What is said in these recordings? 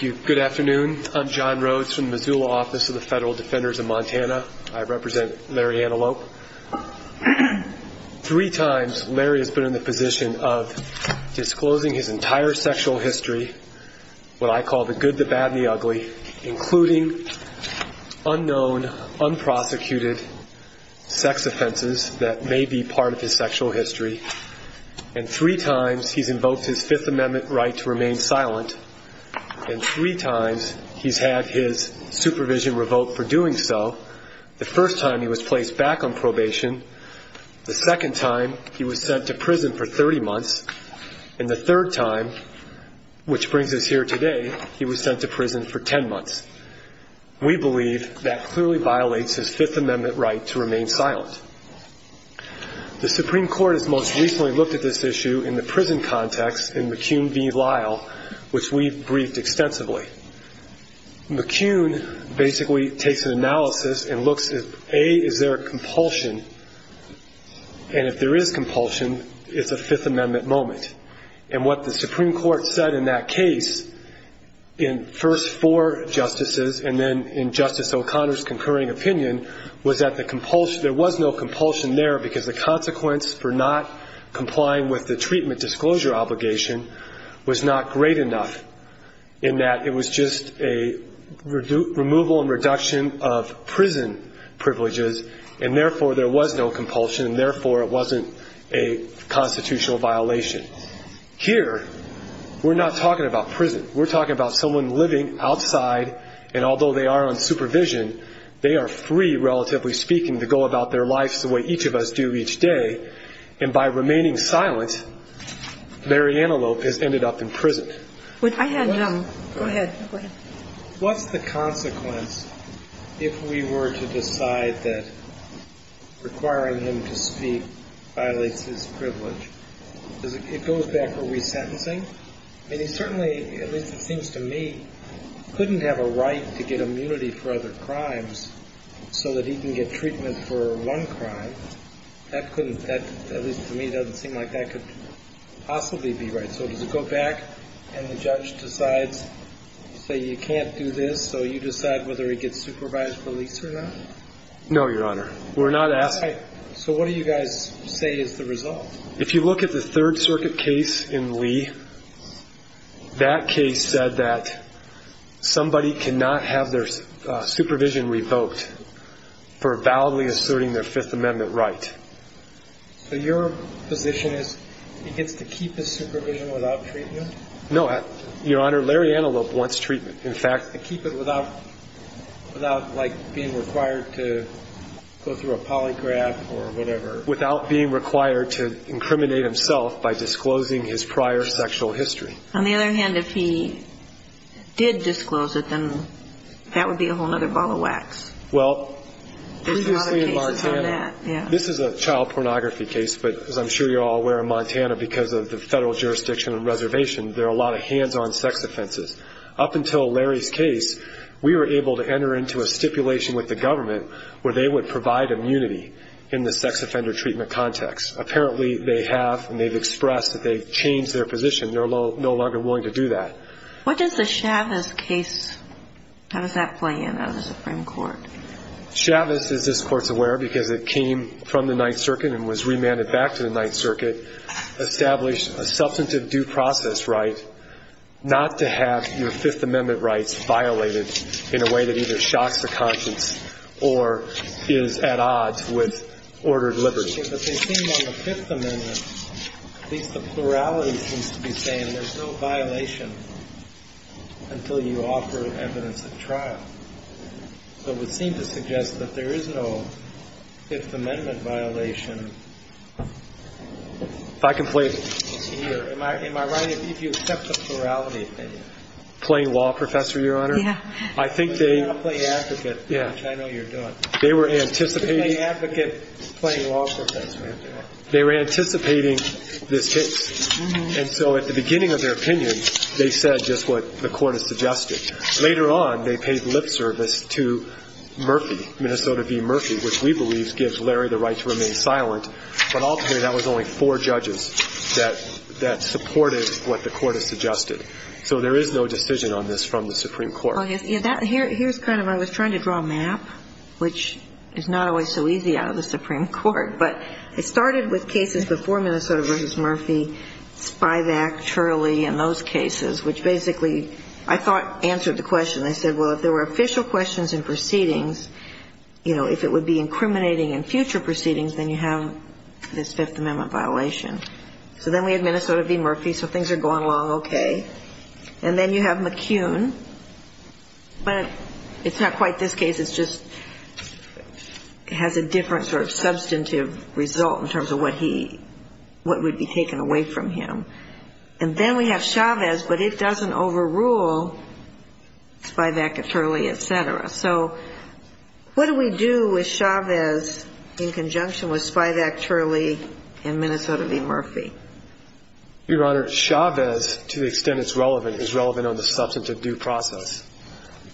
Good afternoon. I'm John Rhodes from the Missoula Office of the Federal Defenders of Montana. I represent Larry Antelope. Three times, Larry has been in the position of disclosing his prosecuted sex offenses that may be part of his sexual history. And three times, he's invoked his Fifth Amendment right to remain silent. And three times, he's had his supervision revoked for doing so. The first time, he was placed back on probation. The second time, he was sent to prison for 30 months. And the third time, which brings us here today, he was sent to prison for 10 months. We believe that clearly violates his Fifth Amendment right to remain silent. The Supreme Court has most recently looked at this issue in the prison context in McCune v. Lyle, which we've briefed extensively. McCune basically takes an analysis and looks at, A, is there a compulsion? And if there is compulsion, it's a Fifth Amendment moment. And what the Supreme Court said in that case, in first four justices and then in Justice O'Connor's concurring opinion, was that there was no compulsion there because the consequence for not complying with the treatment disclosure obligation was not great enough in that it was just a removal and reduction of prison privileges. And therefore, there was no compulsion. And therefore, it wasn't a constitutional violation. Here, we're not talking about prison. We're talking about someone living outside. And although they are on supervision, they are free, relatively speaking, to go about their lives the way each of us do each day. And by remaining silent, Mariana Lopez ended up in prison. I had a question. Go ahead. What's the consequence if we were to decide that requiring him to speak violates his privilege? It goes back, are we sentencing? I mean, he certainly, at least it seems to me, couldn't have a right to get immunity for other crimes so that he can get treatment for one crime. That couldn't, at least to me, doesn't seem like that could possibly be right. So does it go back and the judge decides, say, you can't do this, so you decide whether he gets supervised release or not? No, Your Honor. We're not asking. So what do you guys say is the result? If you look at the Third Circuit case in Lee, that case said that somebody cannot have their supervision revoked for validly asserting their Fifth Amendment right. So your position is he gets to keep his supervision without treatment? No, Your Honor. Larry Antelope wants treatment. In fact, To keep it without, like, being required to go through a polygraph or whatever? Without being required to incriminate himself by disclosing his prior sexual history. On the other hand, if he did disclose it, then that would be a whole other ball of wax. Well, previously in Montana, this is a child pornography case, but as I'm sure you're all aware, in Montana, because of the federal jurisdiction and reservation, there are a lot of hands-on sex offenses. Up until Larry's case, we were able to enter into a stipulation with the government where they would provide immunity in the sex offender treatment context. Apparently they have, and they've expressed that they've changed their position. They're no longer willing to do that. What does the Chavez case, how does that play in as a Supreme Court? Chavez, as this Court's aware, because it came from the Ninth Circuit and was remanded back to the Ninth Circuit, established a substantive due process right not to have your Fifth Amendment rights violated in a way that either shocks the conscience or is at odds with ordered liberty. But they seem on the Fifth Amendment, at least the plurality seems to be saying there's no violation until you offer evidence of trial. So it would seem to suggest that there is no Fifth Amendment violation. If I can play it here. Am I right if you accept the plurality opinion? Playing law, Professor, Your Honor? Yeah. I think they... I'm playing advocate, which I know you're doing. They were anticipating... They were anticipating this case. And so at the beginning of their opinion, they said just what the Court has suggested. Later on, they paid lip service to Murphy, Minnesota v. Murphy, which we believe gives Larry the right to remain silent. But ultimately, that was only four judges that supported what the Court has suggested. So there is no decision on this from the Supreme Court. Here's kind of... I was trying to draw a map, which is not always so easy out of the Supreme Court. But it started with cases before Minnesota v. Murphy, Spivak, Turley, and those cases, which basically I thought answered the question. They said, well, if there were official questions in proceedings, you know, if it would be incriminating in future proceedings, then you have this Fifth Amendment violation. So then we had Minnesota v. Murphy, so things are going along okay. And then you have McCune. But it's not quite this case. It's just has a different sort of substantive result in terms of what he... what would be taken away from him. And then we have Chavez, but it doesn't overrule Spivak, Turley, et cetera. So what do we do with Chavez in conjunction with Spivak, Turley, and Minnesota v. Murphy? Your Honor, Chavez, to the extent it's relevant, is relevant on the substantive due process,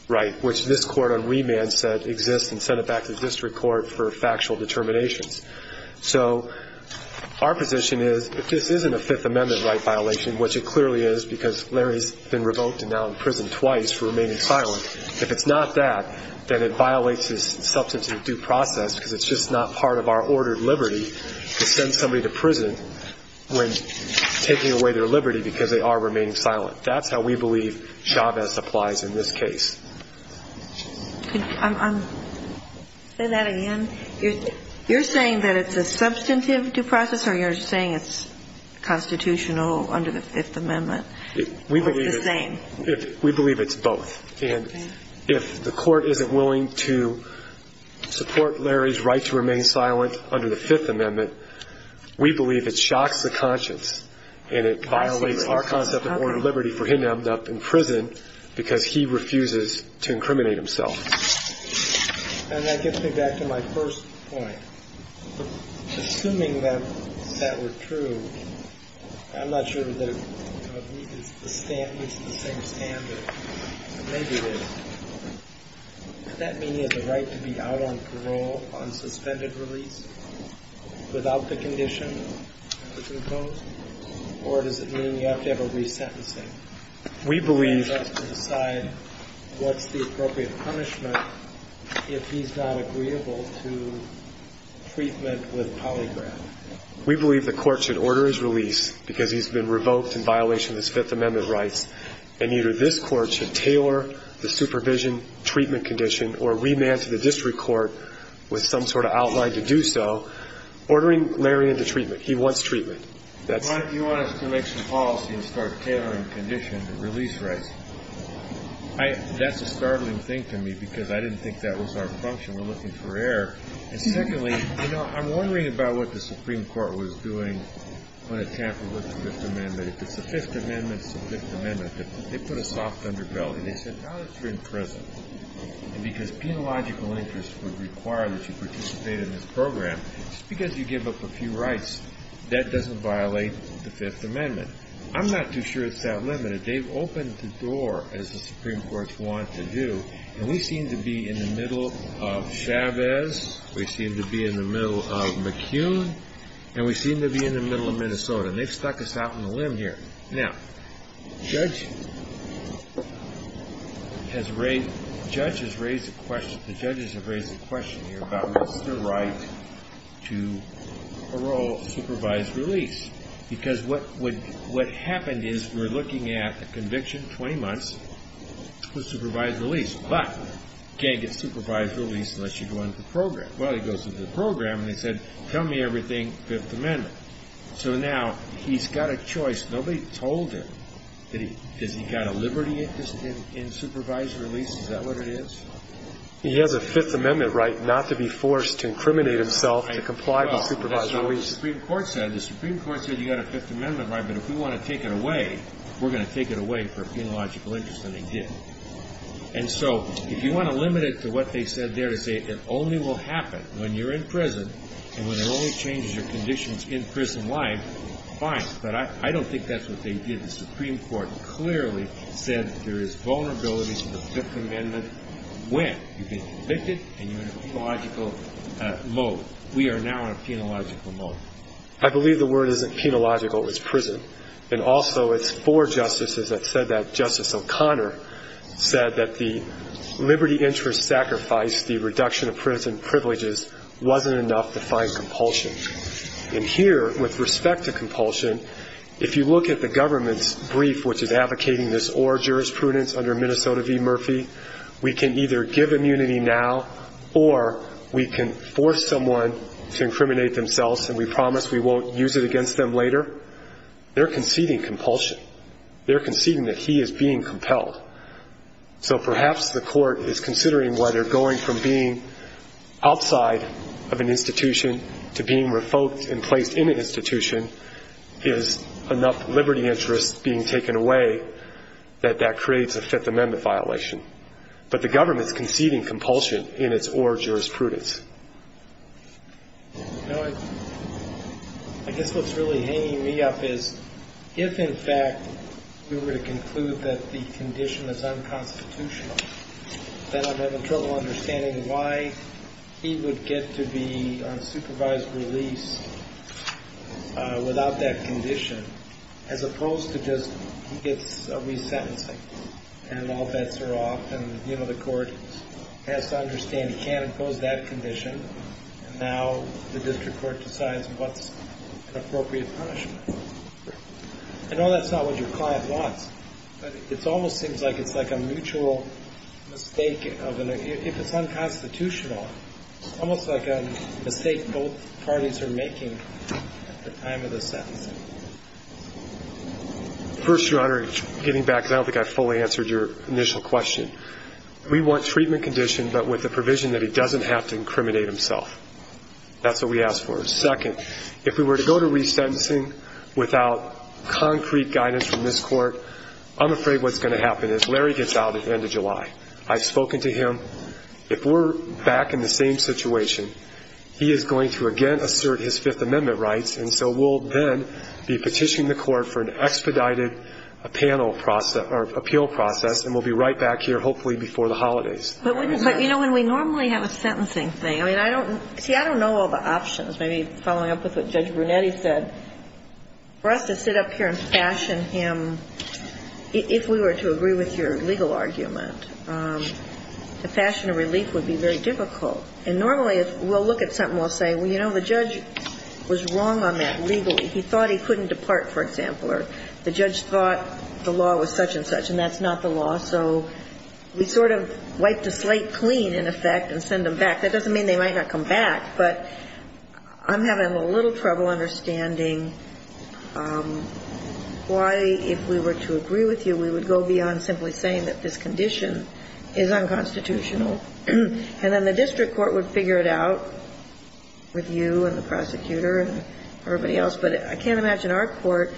right, which this court on remand said exists and sent it back to district court for factual determinations. So our position is if this isn't a Fifth Amendment right violation, which it clearly is because Larry's been revoked and now in prison twice for remaining silent, if it's not that, then it violates his substantive due process because it's just not part of our when taking away their liberty because they are remaining silent. That's how we believe Chavez applies in this case. Can I say that again? You're saying that it's a substantive due process or you're saying it's constitutional under the Fifth Amendment or it's the same? We believe it's both. And if the court isn't willing to support Larry's right to remain silent under the Fifth Amendment, we believe it shocks the conscience and it violates our concept of order of liberty for him to end up in prison because he refuses to incriminate himself. And that gets me back to my first point. Assuming that that were true, I'm not sure that it meets the same standard, but maybe it is. Does that mean he has a right to be out on parole on suspended release without the condition that's imposed? Or does it mean you have to have a resentencing? We believe... He has to decide what's the appropriate punishment if he's not agreeable to treatment with polygraph. We believe the court should order his release because he's been revoked in violation of his Fifth Amendment rights and either this court should tailor the supervision treatment condition or remand to the district court with some sort of outline to do so, ordering Larry into treatment. He wants treatment. Mike, do you want us to make some policy and start tailoring conditions and release rights? That's a startling thing to me because I didn't think that was our function. We're looking for error. And secondly, you know, I'm wondering about what the Supreme Court was doing when it tampered with the Fifth Amendment. If it's the Fifth Amendment, it's the Fifth Amendment. If they put a soft underbelly, they said now that you're in prison and because penological interests would require that you participate in this program, just because you give up a few rights, that doesn't violate the Fifth Amendment. I'm not too sure it's that limited. They've opened the door, as the Supreme Court's wanted to do, and we seem to be in the middle of Chavez, we seem to be in the middle of McCune, and we seem to be in the middle of Minnesota. And they've stuck us out on a limb here. Now, judges have raised a question here about Mr. Wright to parole supervised release because what happened is we're looking at a conviction, 20 months, for supervised release, but you can't get supervised release unless you go into the program. Well, he goes into the program and he said, tell me everything Fifth Amendment. So now he's got a choice. Nobody told him. Does he got a liberty in supervised release? Is that what it is? He has a Fifth Amendment right not to be forced to incriminate himself to comply with supervised release. Well, that's not what the Supreme Court said. The Supreme Court said you got a Fifth Amendment right, but if we want to take it away, we're going to take it away for a penological interest, and they did. And so if you want to limit it to what they said there to say it only will happen when you're in prison and when it only changes your conditions in prison life, fine. But I don't think that's what they did. The Supreme Court clearly said there is vulnerability to the Fifth Amendment when you get convicted and you're in a penological mode. We are now in a penological mode. I believe the word isn't penological. It's prison. And also it's four justices that said that. And here, with respect to compulsion, if you look at the government's brief, which is advocating this or jurisprudence under Minnesota v. Murphy, we can either give immunity now or we can force someone to incriminate themselves and we promise we won't use it against them later. They're conceding compulsion. They're conceding that he is being compelled. So perhaps the court is considering whether going from being outside of an institution to being revoked and placed in an institution is enough liberty interest being taken away that that creates a Fifth Amendment violation. But the government's conceding compulsion in its or jurisprudence. I guess what's really hanging me up is if, in fact, we were to conclude that the condition is unconstitutional, then I'm having trouble understanding why he would get to be on supervised release without that condition as opposed to just he gets a resentencing and all bets are off and the court has to understand he can't impose that condition and now the district court decides what's an appropriate punishment. I know that's not what your client wants, but it almost seems like it's like a mutual mistake if it's unconstitutional. It's almost like a mistake both parties are making at the time of the sentencing. First, Your Honor, getting back, I don't think I fully answered your initial question. We want treatment condition but with the provision that he doesn't have to incriminate himself. That's what we ask for. Second, if we were to go to resentencing without concrete guidance from this court, I'm afraid what's going to happen is Larry gets out at the end of July. I've spoken to him. If we're back in the same situation, he is going to again assert his Fifth Amendment rights, and so we'll then be petitioning the court for an expedited appeal process and we'll be right back here hopefully before the holidays. But, you know, when we normally have a sentencing thing, I mean, I don't know all the options. Maybe following up with what Judge Brunetti said, for us to sit up here and fashion him, if we were to agree with your legal argument, the fashion of relief would be very difficult. And normally we'll look at something and we'll say, well, you know, the judge was wrong on that legally. He thought he couldn't depart, for example. Or the judge thought the law was such and such, and that's not the law. So we sort of wiped the slate clean, in effect, and send them back. That doesn't mean they might not come back, but I'm having a little trouble understanding why, if we were to agree with you, we would go beyond simply saying that this condition is unconstitutional. And then the district court would figure it out with you and the prosecutor and everybody else. But I can't imagine our court,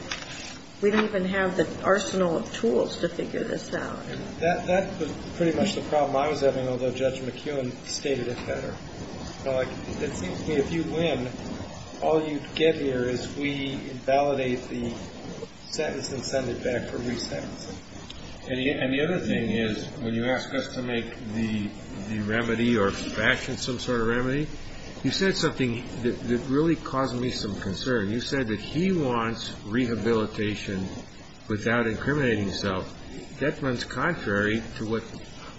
we don't even have the arsenal of tools to figure this out. That was pretty much the problem I was having, although Judge McKeown stated it better. It seems to me if you win, all you get here is we validate the sentence and send it back for resentencing. And the other thing is when you ask us to make the remedy or fashion some sort of remedy, you said something that really caused me some concern. You said that he wants rehabilitation without incriminating himself. That's contrary to what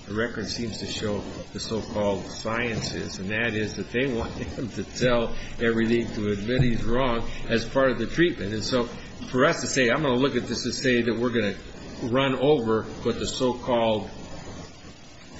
the record seems to show the so-called science is, and that is that they want him to tell everything to admit he's wrong as part of the treatment. And so for us to say, I'm going to look at this and say that we're going to run over what the so-called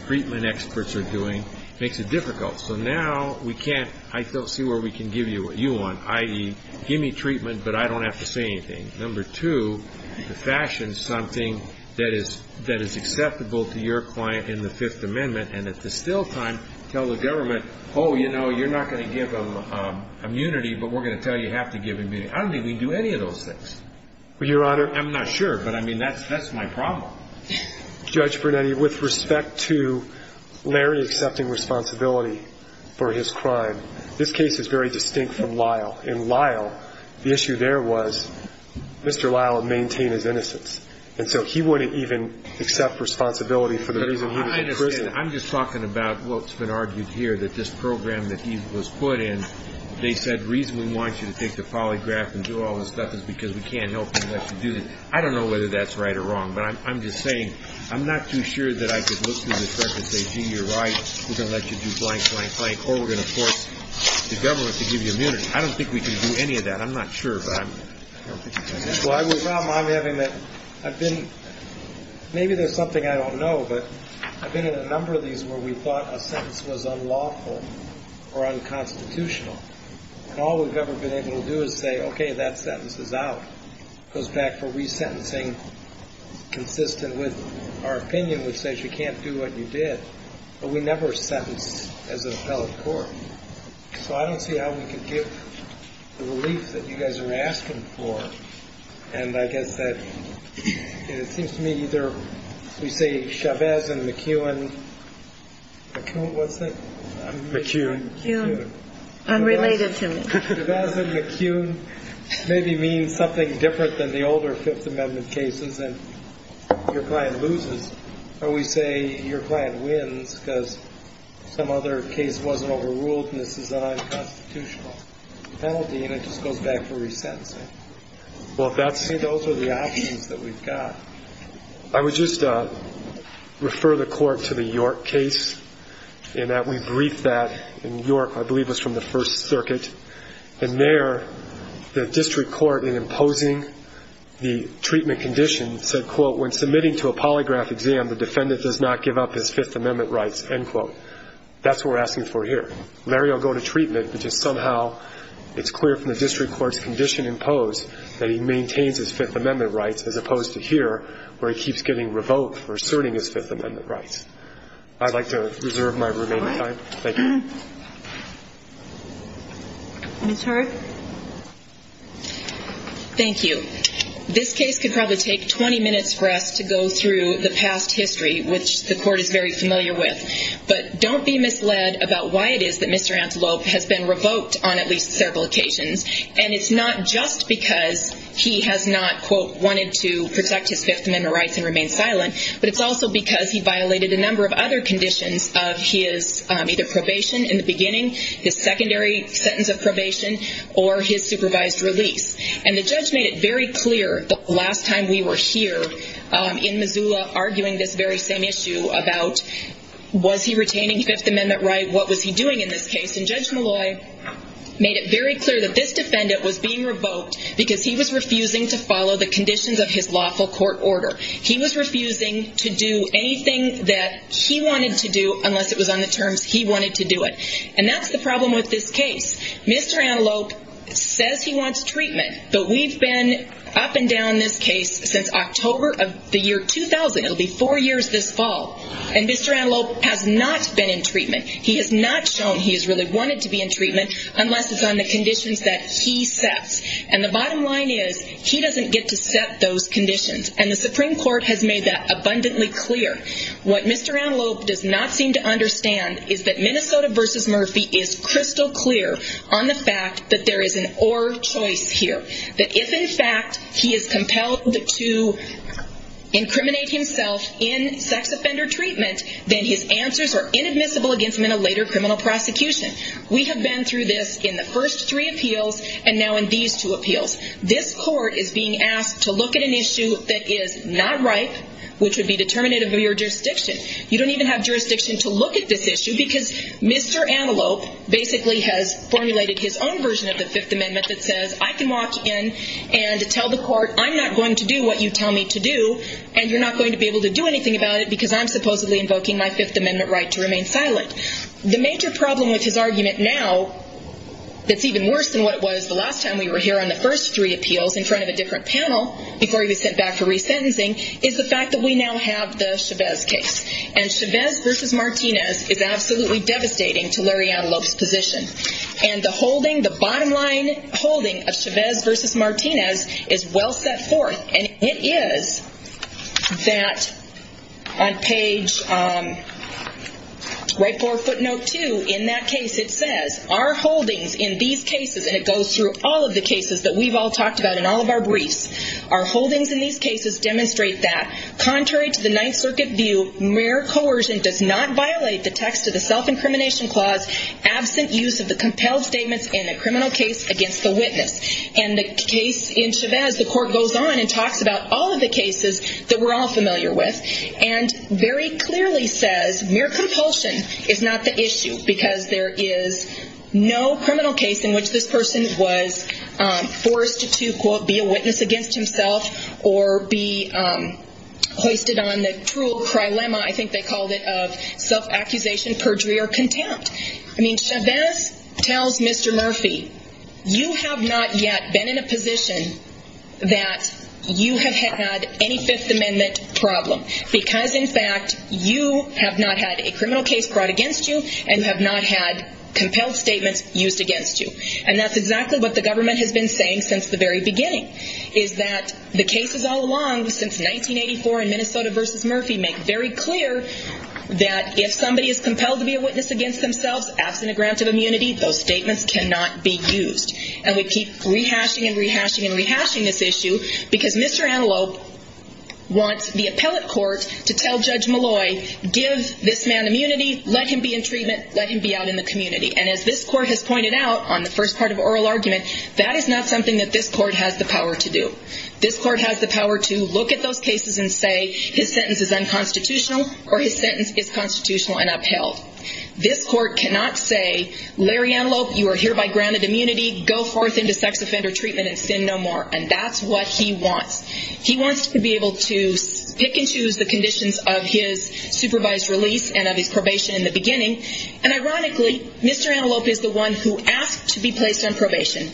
treatment experts are doing makes it difficult. So now we can't, I don't see where we can give you what you want, i.e., give me treatment, but I don't have to say anything. Number two, to fashion something that is acceptable to your client in the Fifth Amendment and at the still time tell the government, oh, you know, you're not going to give him immunity, but we're going to tell you you have to give him immunity. I don't think we can do any of those things. Your Honor. I'm not sure, but, I mean, that's my problem. Judge Brunetti, with respect to Larry accepting responsibility for his crime, this case is very distinct from Lyle. In Lyle, the issue there was Mr. Lyle would maintain his innocence, and so he wouldn't even accept responsibility for the reason he was imprisoned. I understand. I'm just talking about what's been argued here, that this program that he was put in, they said the reason we want you to take the polygraph and do all this stuff is because we can't help you unless you do this. I don't know whether that's right or wrong, but I'm just saying, I'm not too sure that I could look through this record and say, gee, you're right, we're going to let you do blank, blank, blank, or we're going to force the government to give you immunity. I don't think we can do any of that. I'm not sure, but I don't think we can. Well, I would not mind having that. I've been, maybe there's something I don't know, but I've been in a number of these where we thought a sentence was unlawful or unconstitutional. And all we've ever been able to do is say, okay, that sentence is out. It goes back for resentencing consistent with our opinion, which says you can't do what you did. But we never sentenced as an appellate court. So I don't see how we can give the relief that you guys are asking for. And I guess that it seems to me either we say Chavez and McEwen. McEwen, what's that? McEwen. McEwen. Unrelated to me. Chavez and McEwen maybe mean something different than the older Fifth Amendment cases and your client loses. Or we say your client wins because some other case wasn't overruled and this is an unconstitutional penalty, and it just goes back for resentencing. Those are the options that we've got. I would just refer the court to the York case in that we briefed that in York, I believe it was from the First Circuit. And there the district court in imposing the treatment condition said, quote, when submitting to a polygraph exam the defendant does not give up his Fifth Amendment rights, end quote. That's what we're asking for here. Larry will go to treatment because somehow it's clear from the district court's condition imposed that he maintains his Fifth Amendment rights as opposed to here where he keeps getting revoked for asserting his Fifth Amendment rights. I'd like to reserve my remaining time. Thank you. Ms. Hurd. Thank you. This case could probably take 20 minutes for us to go through the past history, which the court is very familiar with. But don't be misled about why it is that Mr. Antelope has been revoked on at least several occasions. And it's not just because he has not, quote, wanted to protect his Fifth Amendment rights and remain silent, but it's also because he violated a number of other conditions of his either probation in the beginning, his secondary sentence of probation, or his supervised release. And the judge made it very clear the last time we were here in Missoula arguing this very same issue about was he retaining Fifth Amendment rights, what was he doing in this case. And Judge Malloy made it very clear that this defendant was being revoked because he was refusing to follow the conditions of his lawful court order. He was refusing to do anything that he wanted to do unless it was on the terms he wanted to do it. And that's the problem with this case. Mr. Antelope says he wants treatment, but we've been up and down this case since October of the year 2000. It'll be four years this fall. And Mr. Antelope has not been in treatment. He has not shown he has really wanted to be in treatment unless it's on the conditions that he sets. And the bottom line is he doesn't get to set those conditions. And the Supreme Court has made that abundantly clear. What Mr. Antelope does not seem to understand is that Minnesota v. Murphy is crystal clear on the fact that there is an or choice here, that if in fact he is compelled to incriminate himself in sex offender treatment, then his answers are inadmissible against him in a later criminal prosecution. We have been through this in the first three appeals and now in these two appeals. This court is being asked to look at an issue that is not ripe, which would be determinative of your jurisdiction. You don't even have jurisdiction to look at this issue because Mr. Antelope basically has formulated his own version of the Fifth Amendment that says I can walk in and tell the court I'm not going to do what you tell me to do and you're not going to be able to do anything about it because I'm supposedly invoking my Fifth Amendment right to remain silent. The major problem with his argument now that's even worse than what it was the last time we were here on the first three appeals in front of a different panel before he was sent back for resentencing is the fact that we now have the Chavez case. And Chavez v. Martinez is absolutely devastating to Larry Antelope's position. And the holding, the bottom line holding of Chavez v. Martinez is well set forth. And it is that on page right 4 footnote 2 in that case it says, our holdings in these cases, and it goes through all of the cases that we've all talked about in all of our briefs, our holdings in these cases demonstrate that contrary to the Ninth Circuit view, mere coercion does not violate the text of the self-incrimination clause absent use of the compelled statements in a criminal case against the witness. And the case in Chavez, the court goes on and talks about all of the cases that we're all familiar with and very clearly says mere compulsion is not the issue because there is no criminal case in which this person was forced to, quote, be a witness against himself or be hoisted on the cruel prilemma, I think they called it, of self-accusation, perjury, or contempt. I mean, Chavez tells Mr. Murphy, you have not yet been in a position that you have had any Fifth Amendment problem because, in fact, you have not had a criminal case brought against you and have not had compelled statements used against you. And that's exactly what the government has been saying since the very beginning is that the cases all along since 1984 in Minnesota v. Murphy make very clear that if somebody is compelled to be a witness against themselves, absent a grant of immunity, those statements cannot be used. And we keep rehashing and rehashing and rehashing this issue because Mr. Antelope wants the appellate court to tell Judge Malloy, give this man immunity, let him be in treatment, let him be out in the community. And as this court has pointed out on the first part of oral argument, that is not something that this court has the power to do. This court has the power to look at those cases and say, his sentence is unconstitutional or his sentence is constitutional and upheld. This court cannot say, Larry Antelope, you are hereby granted immunity, go forth into sex offender treatment and sin no more. And that's what he wants. He wants to be able to pick and choose the conditions of his supervised release and of his probation in the beginning. And ironically, Mr. Antelope is the one who asked to be placed on probation.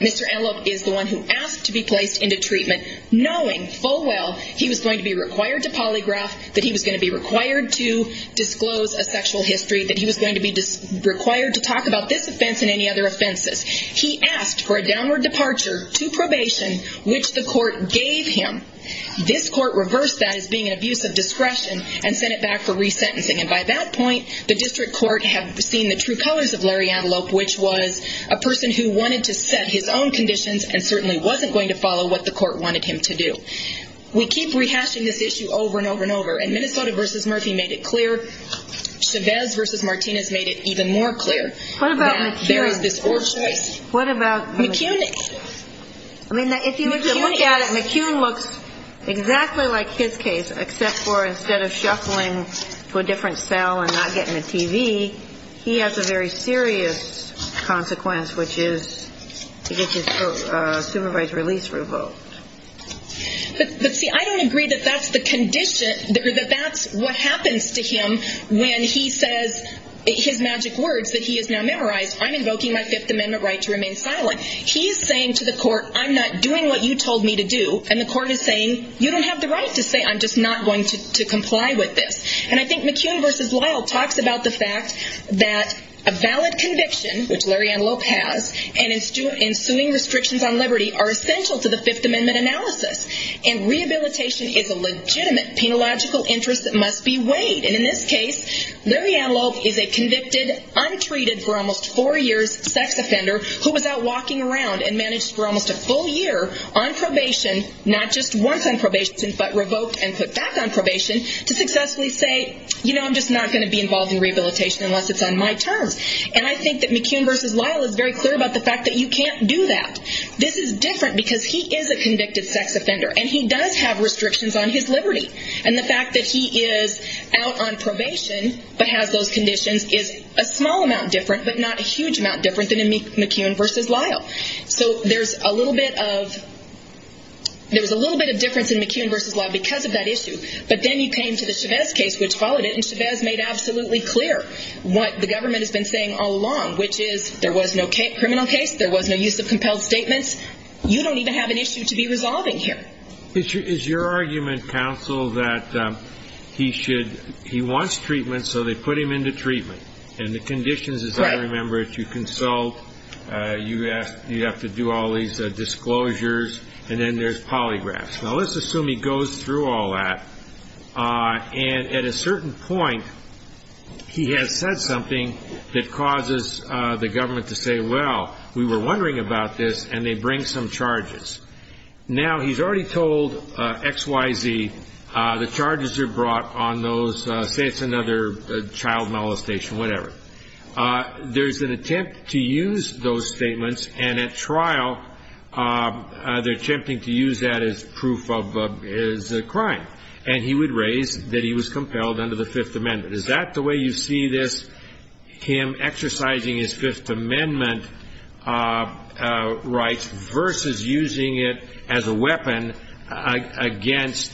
Mr. Antelope is the one who asked to be placed into treatment, knowing full well, he was going to be required to polygraph, that he was going to be required to disclose a sexual history, that he was going to be required to talk about this offense and any other offenses. He asked for a downward departure to probation, which the court gave him. This court reversed that as being an abuse of discretion and sent it back for resentencing. And by that point, the district court had seen the true colors of Larry Antelope, which was a person who wanted to set his own conditions and certainly wasn't going to follow what the court wanted him to do. We keep rehashing this issue over and over and over. And Minnesota versus Murphy made it clear. Chavez versus Martinez made it even more clear. There is this or choice. What about McEwen? I mean, if you look at it, McEwen looks exactly like his case, except for instead of shuffling to a different cell and not getting a TV, he has a very serious consequence, which is to get his supervised release revoked. But see, I don't agree that that's the condition, that that's what happens to him when he says his magic words that he has now memorized. I'm invoking my fifth amendment right to remain silent. He's saying to the court, I'm not doing what you told me to do. And the court is saying, you don't have the right to say, I'm just not going to comply with this. And I think McEwen versus Lyle talks about the fact that a valid conviction, which Larry Antelope has, and ensuing restrictions on liberty are essential to the fifth amendment analysis. And rehabilitation is a legitimate penological interest that must be weighed. And in this case, Larry Antelope is a convicted, untreated for almost four years, sex offender who was out walking around and managed for almost a full year on probation, not just once on probation, but revoked and put back on probation to successfully say, you know, I'm just not going to be involved in rehabilitation unless it's on my terms. And I think that McEwen versus Lyle is very clear about the fact that you can't do that. This is different because he is a convicted sex offender and he does have restrictions on his liberty. And the fact that he is out on probation, but has those conditions is a small amount different, but not a huge amount different than McEwen versus Lyle. So there's a little bit of, there was a little bit of difference in McEwen versus Lyle because of that issue. But then you came to the Chavez case, which followed it and Chavez made absolutely clear what the government has been saying all along, which is there was no criminal case. There was no use of compelled statements. You don't even have an issue to be resolving here. Is your argument, counsel, that he should, he wants treatment. So they put him into treatment and the conditions, as I remember it, you consult, you have to do all these disclosures and then there's polygraphs. Now let's assume he goes through all that. And at a certain point, he has said something that causes the government to say, well, we were wondering about this and they bring some charges. Now he's already told XYZ, the charges are brought on those, say it's another child molestation, whatever. There's an attempt to use those statements and at trial, they're attempting to use that as proof of his crime. And he would raise that he was compelled under the fifth amendment. Is that the way you see this? Him exercising his fifth amendment rights versus using it as a weapon against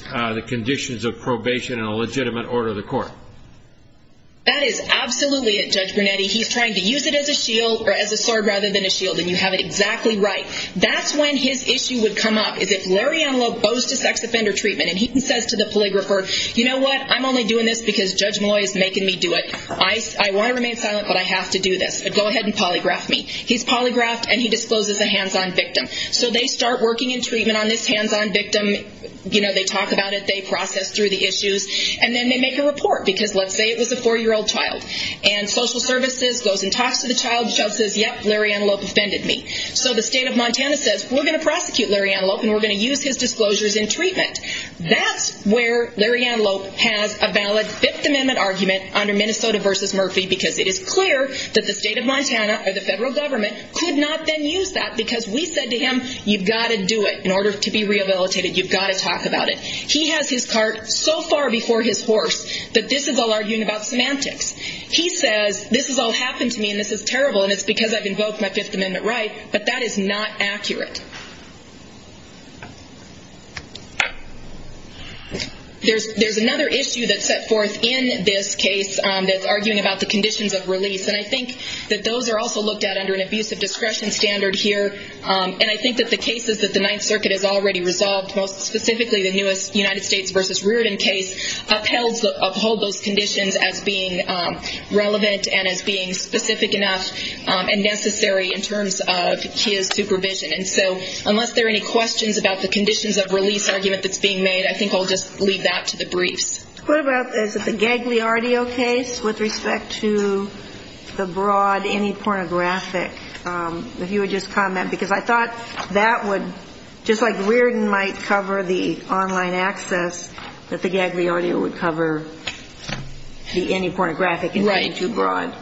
That is absolutely it, Judge Brunetti. He's trying to use it as a shield or as a sword rather than a shield. And you have it exactly right. That's when his issue would come up. Is if Larry Antelope goes to sex offender treatment and he says to the polygrapher, you know what? I'm only doing this because Judge Malloy is making me do it. I want to remain silent, but I have to do this. Go ahead and polygraph me. He's polygraphed and he discloses a hands-on victim. So they start working in treatment on this hands-on victim. You know, they talk about it, they process through the issues and then they make a report. Because let's say it was a four-year-old child and social services goes and talks to the child. The child says, yep, Larry Antelope offended me. So the state of Montana says, we're going to prosecute Larry Antelope and we're going to use his disclosures in treatment. That's where Larry Antelope has a valid fifth amendment argument under Minnesota versus Murphy, because it is clear that the state of Montana or the federal government could not then use that because we said to him, you've got to do it in order to be rehabilitated. You've got to talk about it. He has his cart so far before his horse that this is all arguing about semantics. He says, this has all happened to me and this is terrible and it's because I've invoked my fifth amendment right, but that is not accurate. There's, there's another issue that's set forth in this case that's arguing about the conditions of release. And I think that those are also looked at under an abusive discretion standard here. And I think that the cases that the ninth circuit has already resolved, most specifically the newest United States versus Reardon case, upheld, uphold those conditions as being relevant and as being specific enough and necessary in terms of his supervision. And so unless there are any questions about the conditions of release argument that's being made, I think I'll just leave that to the briefs. What about, is it the gagly audio case with respect to the broad, any pornographic, if you would just comment, because I thought that would just like Reardon might cover the online access that the gagly audio would cover the, any pornographic and too broad.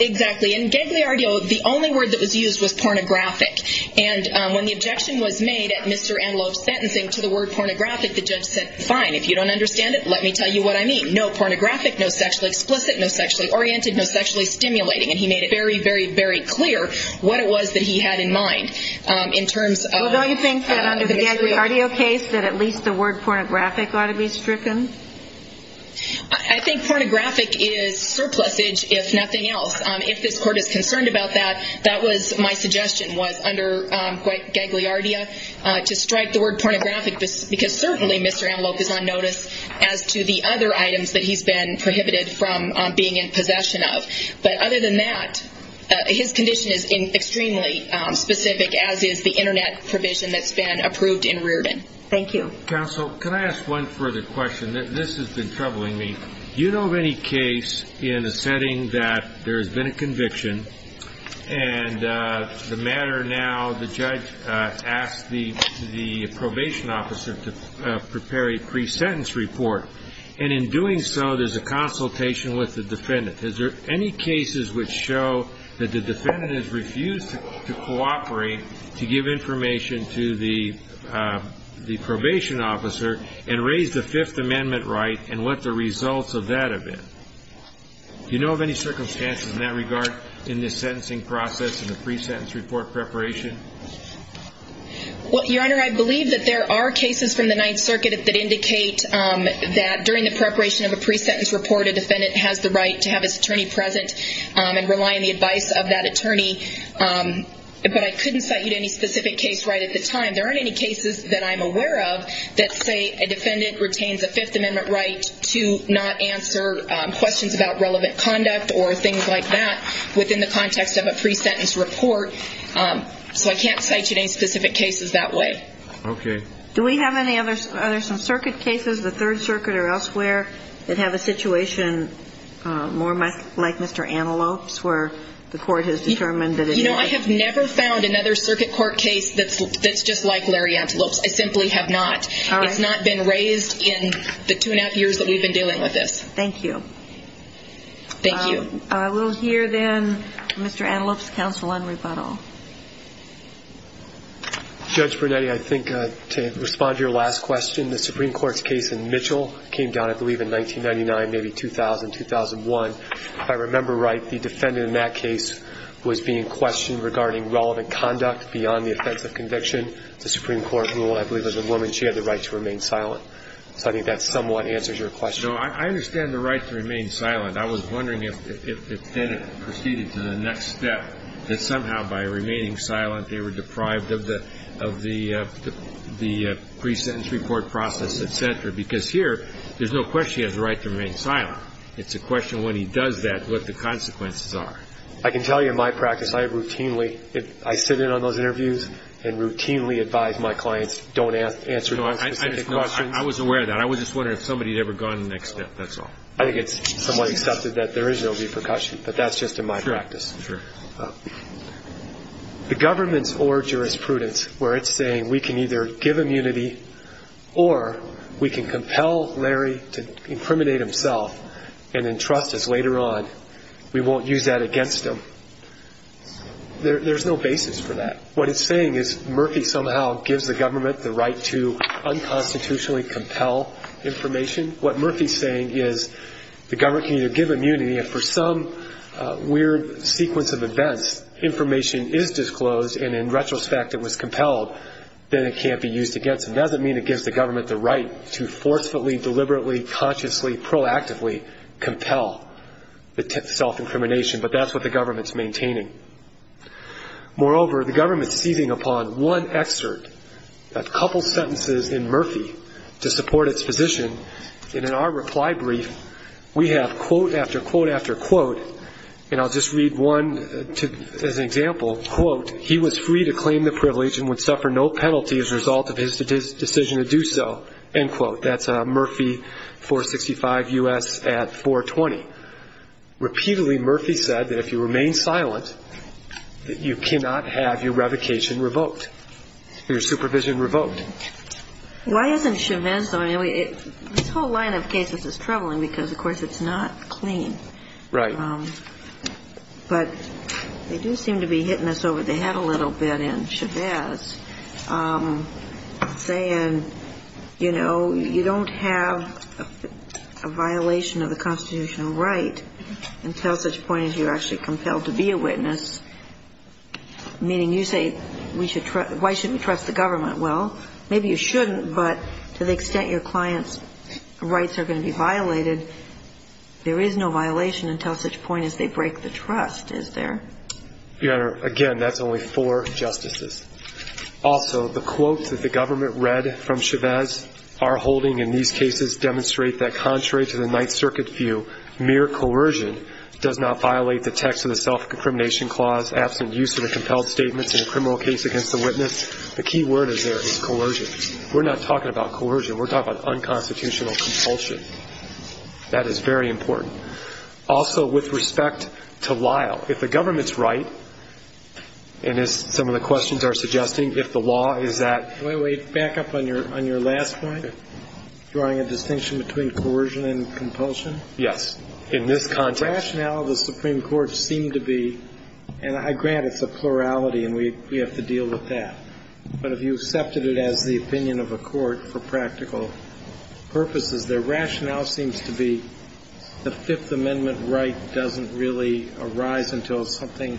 Exactly. And gagly audio, the only word that was used was pornographic. And when the objection was made at Mr. Antelope's sentencing to the word pornographic, the judge said, fine, if you don't understand it, let me tell you what I mean. No pornographic, no sexually explicit, no sexually oriented, no sexually stimulating. And he made it very, very, very clear what it was that he had in mind, um, in terms of the gagly audio case, that at least the word pornographic ought to be stricken. I think pornographic is surplus age, if nothing else. Um, if this court is concerned about that, that was my suggestion was under, um, quite gagly audio, uh, to strike the word pornographic, because certainly Mr. Antelope is on notice as to the other items that he's been prohibited from, um, being in possession of. But other than that, uh, his condition is in extremely, um, specific, as is the internet provision that's been approved in Reardon. Thank you. Counsel, can I ask one further question? This has been troubling me. Do you know of any case in a setting that there has been a conviction, and, uh, the matter now, the judge, uh, asked the, the probation officer to, uh, prepare a pre-sentence report, and in doing so, there's a consultation with the defendant. Is there any cases which show that the defendant has refused to cooperate, to give information to the, uh, the probation officer, and raise the Fifth Amendment right, and what the results of that have been? Do you know of any circumstances in that regard, in this sentencing process, in the pre-sentence report preparation? Well, Your Honor, I believe that there are cases from the Ninth Circuit that indicate, um, that during the preparation of a pre-sentence report, a defendant has the right to have his attorney present, um, and rely on the advice of that attorney. Um, but I couldn't cite you to any specific case right at the time. There aren't any cases that I'm aware of that say a defendant retains a Fifth Amendment right to not answer, um, questions about relevant conduct or things like that within the context of a pre-sentence report. Um, so I can't cite you to any specific cases that way. Okay. Do we have any other, are there some circuit cases, the Third Circuit or elsewhere, that have a situation, uh, more my, like Mr. Antelope's, where the court has determined that it has? You know, I have never found another circuit court case that's, that's just like Larry Antelope's. I simply have not. All right. It's not been raised in the two and a half years that we've been dealing with this. Thank you. Thank you. Um, I will hear then Mr. Antelope's counsel on rebuttal. Judge Brunetti, I think, uh, to respond to your last question, the Supreme Court's case in Mitchell came down, I believe in 1999, maybe 2000, 2001. If I remember right, the defendant in that case was being questioned regarding relevant conduct beyond the offense of conviction. The Supreme Court ruled, I believe it was a woman, she had the right to remain silent. So I think that somewhat answers your question. No, I understand the right to remain silent. I was wondering if, if, if then it proceeded to the next step, that somehow by remaining silent, they were deprived of the, of the, uh, the, uh, pre-sentence report process, et cetera. Because here, there's no question he has the right to remain silent. It's a question when he does that, what the consequences are. I can tell you in my practice, I routinely, I sit in on those interviews and routinely advise my clients, don't ask, answer non-specific questions. No, I was aware of that. I was just wondering if somebody had ever gone to the next step. That's all. I think it's somewhat accepted that there is no repercussion, but that's just in my practice. Sure, sure. The government's or jurisprudence where it's saying we can either give immunity or we can compel Larry to incriminate himself and entrust us later on. We won't use that against him. There, there's no basis for that. What it's saying is Murphy somehow gives the government the right to unconstitutionally compel information. What Murphy's saying is the government can either give immunity and for some weird sequence of events, information is disclosed and in retrospect it was compelled, then it can't be used against him. It doesn't mean it gives the government the right to forcefully, deliberately, consciously, proactively compel the self-incrimination, but that's what the government's maintaining. Moreover, the government's seizing upon one excerpt, a couple sentences in Murphy to support its position, and in our reply brief we have quote after quote after quote, and I'll just read one as an example. Quote, he was free to claim the privilege and would suffer no penalty as a result of his decision to do so. End quote. That's Murphy, 465 U.S. at 420. Repeatedly, Murphy said that if you remain silent, that you cannot have your revocation revoked, your supervision revoked. Why isn't Chavez, this whole line of cases is troubling because, of course, it's not clean. Right. But they do seem to be hitting us over the head a little bit in Chavez, saying, you know, you don't have a violation of the constitutional right until such point as you're actually compelled to be a witness, meaning you say we should, why shouldn't we trust the government? Well, maybe you shouldn't, but to the extent your client's rights are going to be violated, there is no violation until such point as they break the trust, is there? Your Honor, again, that's only four justices. Also, the quote that the government read from Chavez, our holding in these cases demonstrate that contrary to the Ninth Circuit view, mere coercion does not violate the text of the self-incrimination clause, absent use of the compelled statements in a criminal case against the witness. The key word is there is coercion. We're not talking about coercion. We're talking about unconstitutional compulsion. That is very important. Also, with respect to Lyle, if the government's right, and as some of the questions are suggesting, if the law is that. Wait, back up on your, on your last point, drawing a distinction between coercion and compulsion? Yes. In this context. The rationale of the Supreme Court seemed to be, and I grant it's a plurality and we have to deal with that, but if you accepted it as the opinion of a court for practical purposes, their rationale seems to be the Fifth Amendment right doesn't really arise until something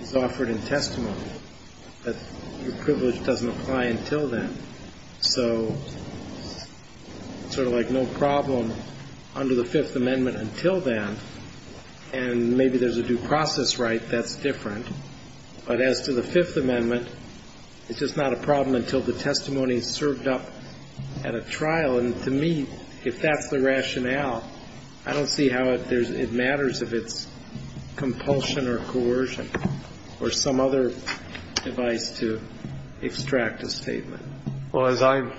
is offered in testimony, that the privilege doesn't apply until then. So it's sort of like no problem under the Fifth Amendment until then, and maybe there's a due process right. That's different. But as to the Fifth Amendment, it's just not a problem until the testimony is served up at a trial. And to me, if that's the rationale, I don't see how it matters if it's compulsion or coercion, or some other device to extract a statement. Well, as I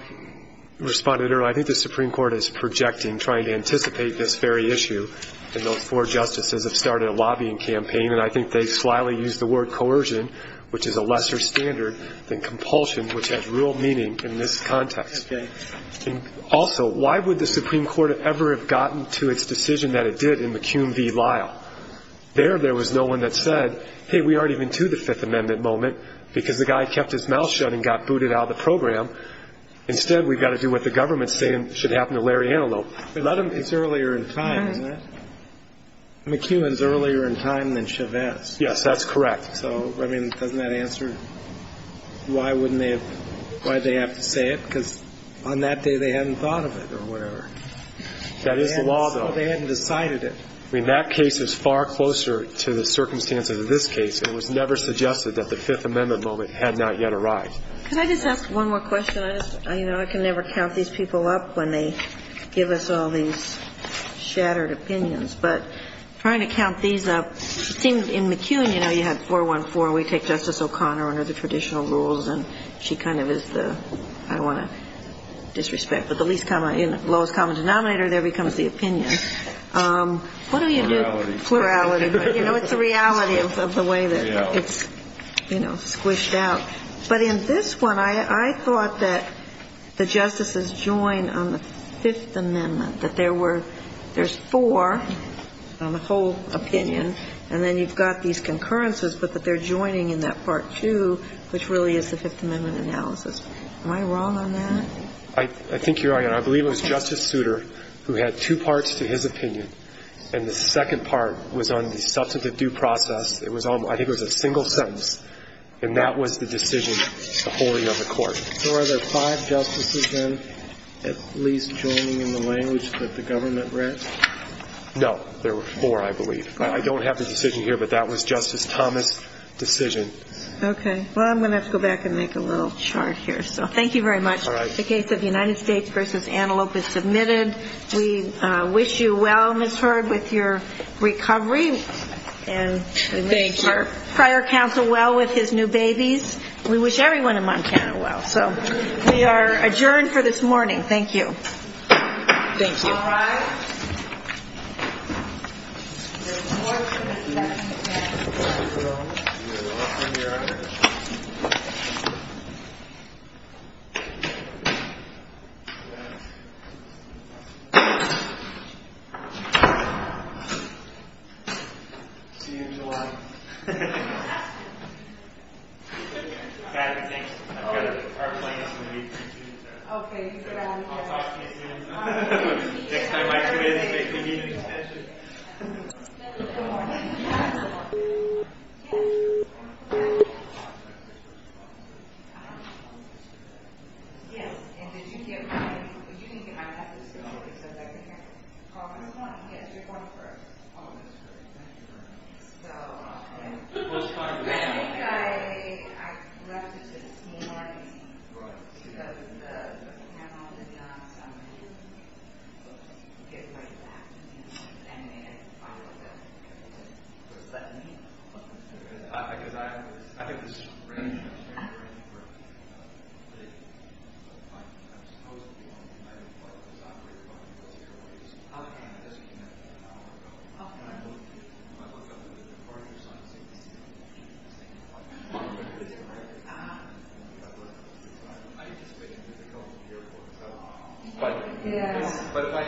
responded earlier, I think the Supreme Court is projecting, trying to anticipate this very issue, and those four justices have started a lobbying campaign, and I think they slyly used the word coercion, which is a lesser standard than compulsion, which has real meaning in this context. Okay. Also, why would the Supreme Court ever have gotten to its decision that it did in McCune v. Lyle? There, there was no one that said, hey, we already went to the Fifth Amendment moment because the guy kept his mouth shut and got booted out of the program. Instead, we've got to do what the government's saying should happen to Larry Antelope. It's earlier in time, isn't it? McCune is earlier in time than Chavez. Yes, that's correct. So, I mean, doesn't that answer why they have to say it? Because on that day, they hadn't thought of it or whatever. That is the law, though. They hadn't decided it. I mean, that case is far closer to the circumstances of this case. It was never suggested that the Fifth Amendment moment had not yet arrived. Could I just ask one more question? I just, you know, I can never count these people up when they give us all these shattered opinions, but trying to count these up, it seems in McCune, you know, you had 414, and we take Justice O'Connor under the traditional rules, and she kind of is the, I don't want to disrespect, but the least common, lowest common denominator, there becomes the opinion. What do you do? Plurality. Plurality. You know, it's the reality of the way that it's, you know, squished out. But in this one, I thought that the Justices joined on the Fifth Amendment, that there were, there's four on the whole opinion, and then you've got these concurrences, but that they're joining in that part two, which really is the Fifth Amendment analysis. Am I wrong on that? I think you are, and I believe it was Justice Souter, who had two parts to his opinion, and the second part was on the substantive due process. It was on, I think it was a single sentence, and that was the decision, the wholing of the court. So are there five Justices, then, at least joining in the language that the government read? No. There were four, I believe. I don't have the decision here, but that was Justice Thomas' decision. Okay. Well, I'm going to have to go back and make a little chart here. So thank you very much. All right. The case of United States v. Antelope is submitted. We wish you well, Ms. Hurd, with your recovery. Thank you. And we wish your prior counsel well with his new babies. We wish everyone in Montana well. So we are adjourned for this morning. Thank you. Thank you. All rise. We're adjourned. See you in July. Thank you. Thank you. Thank you.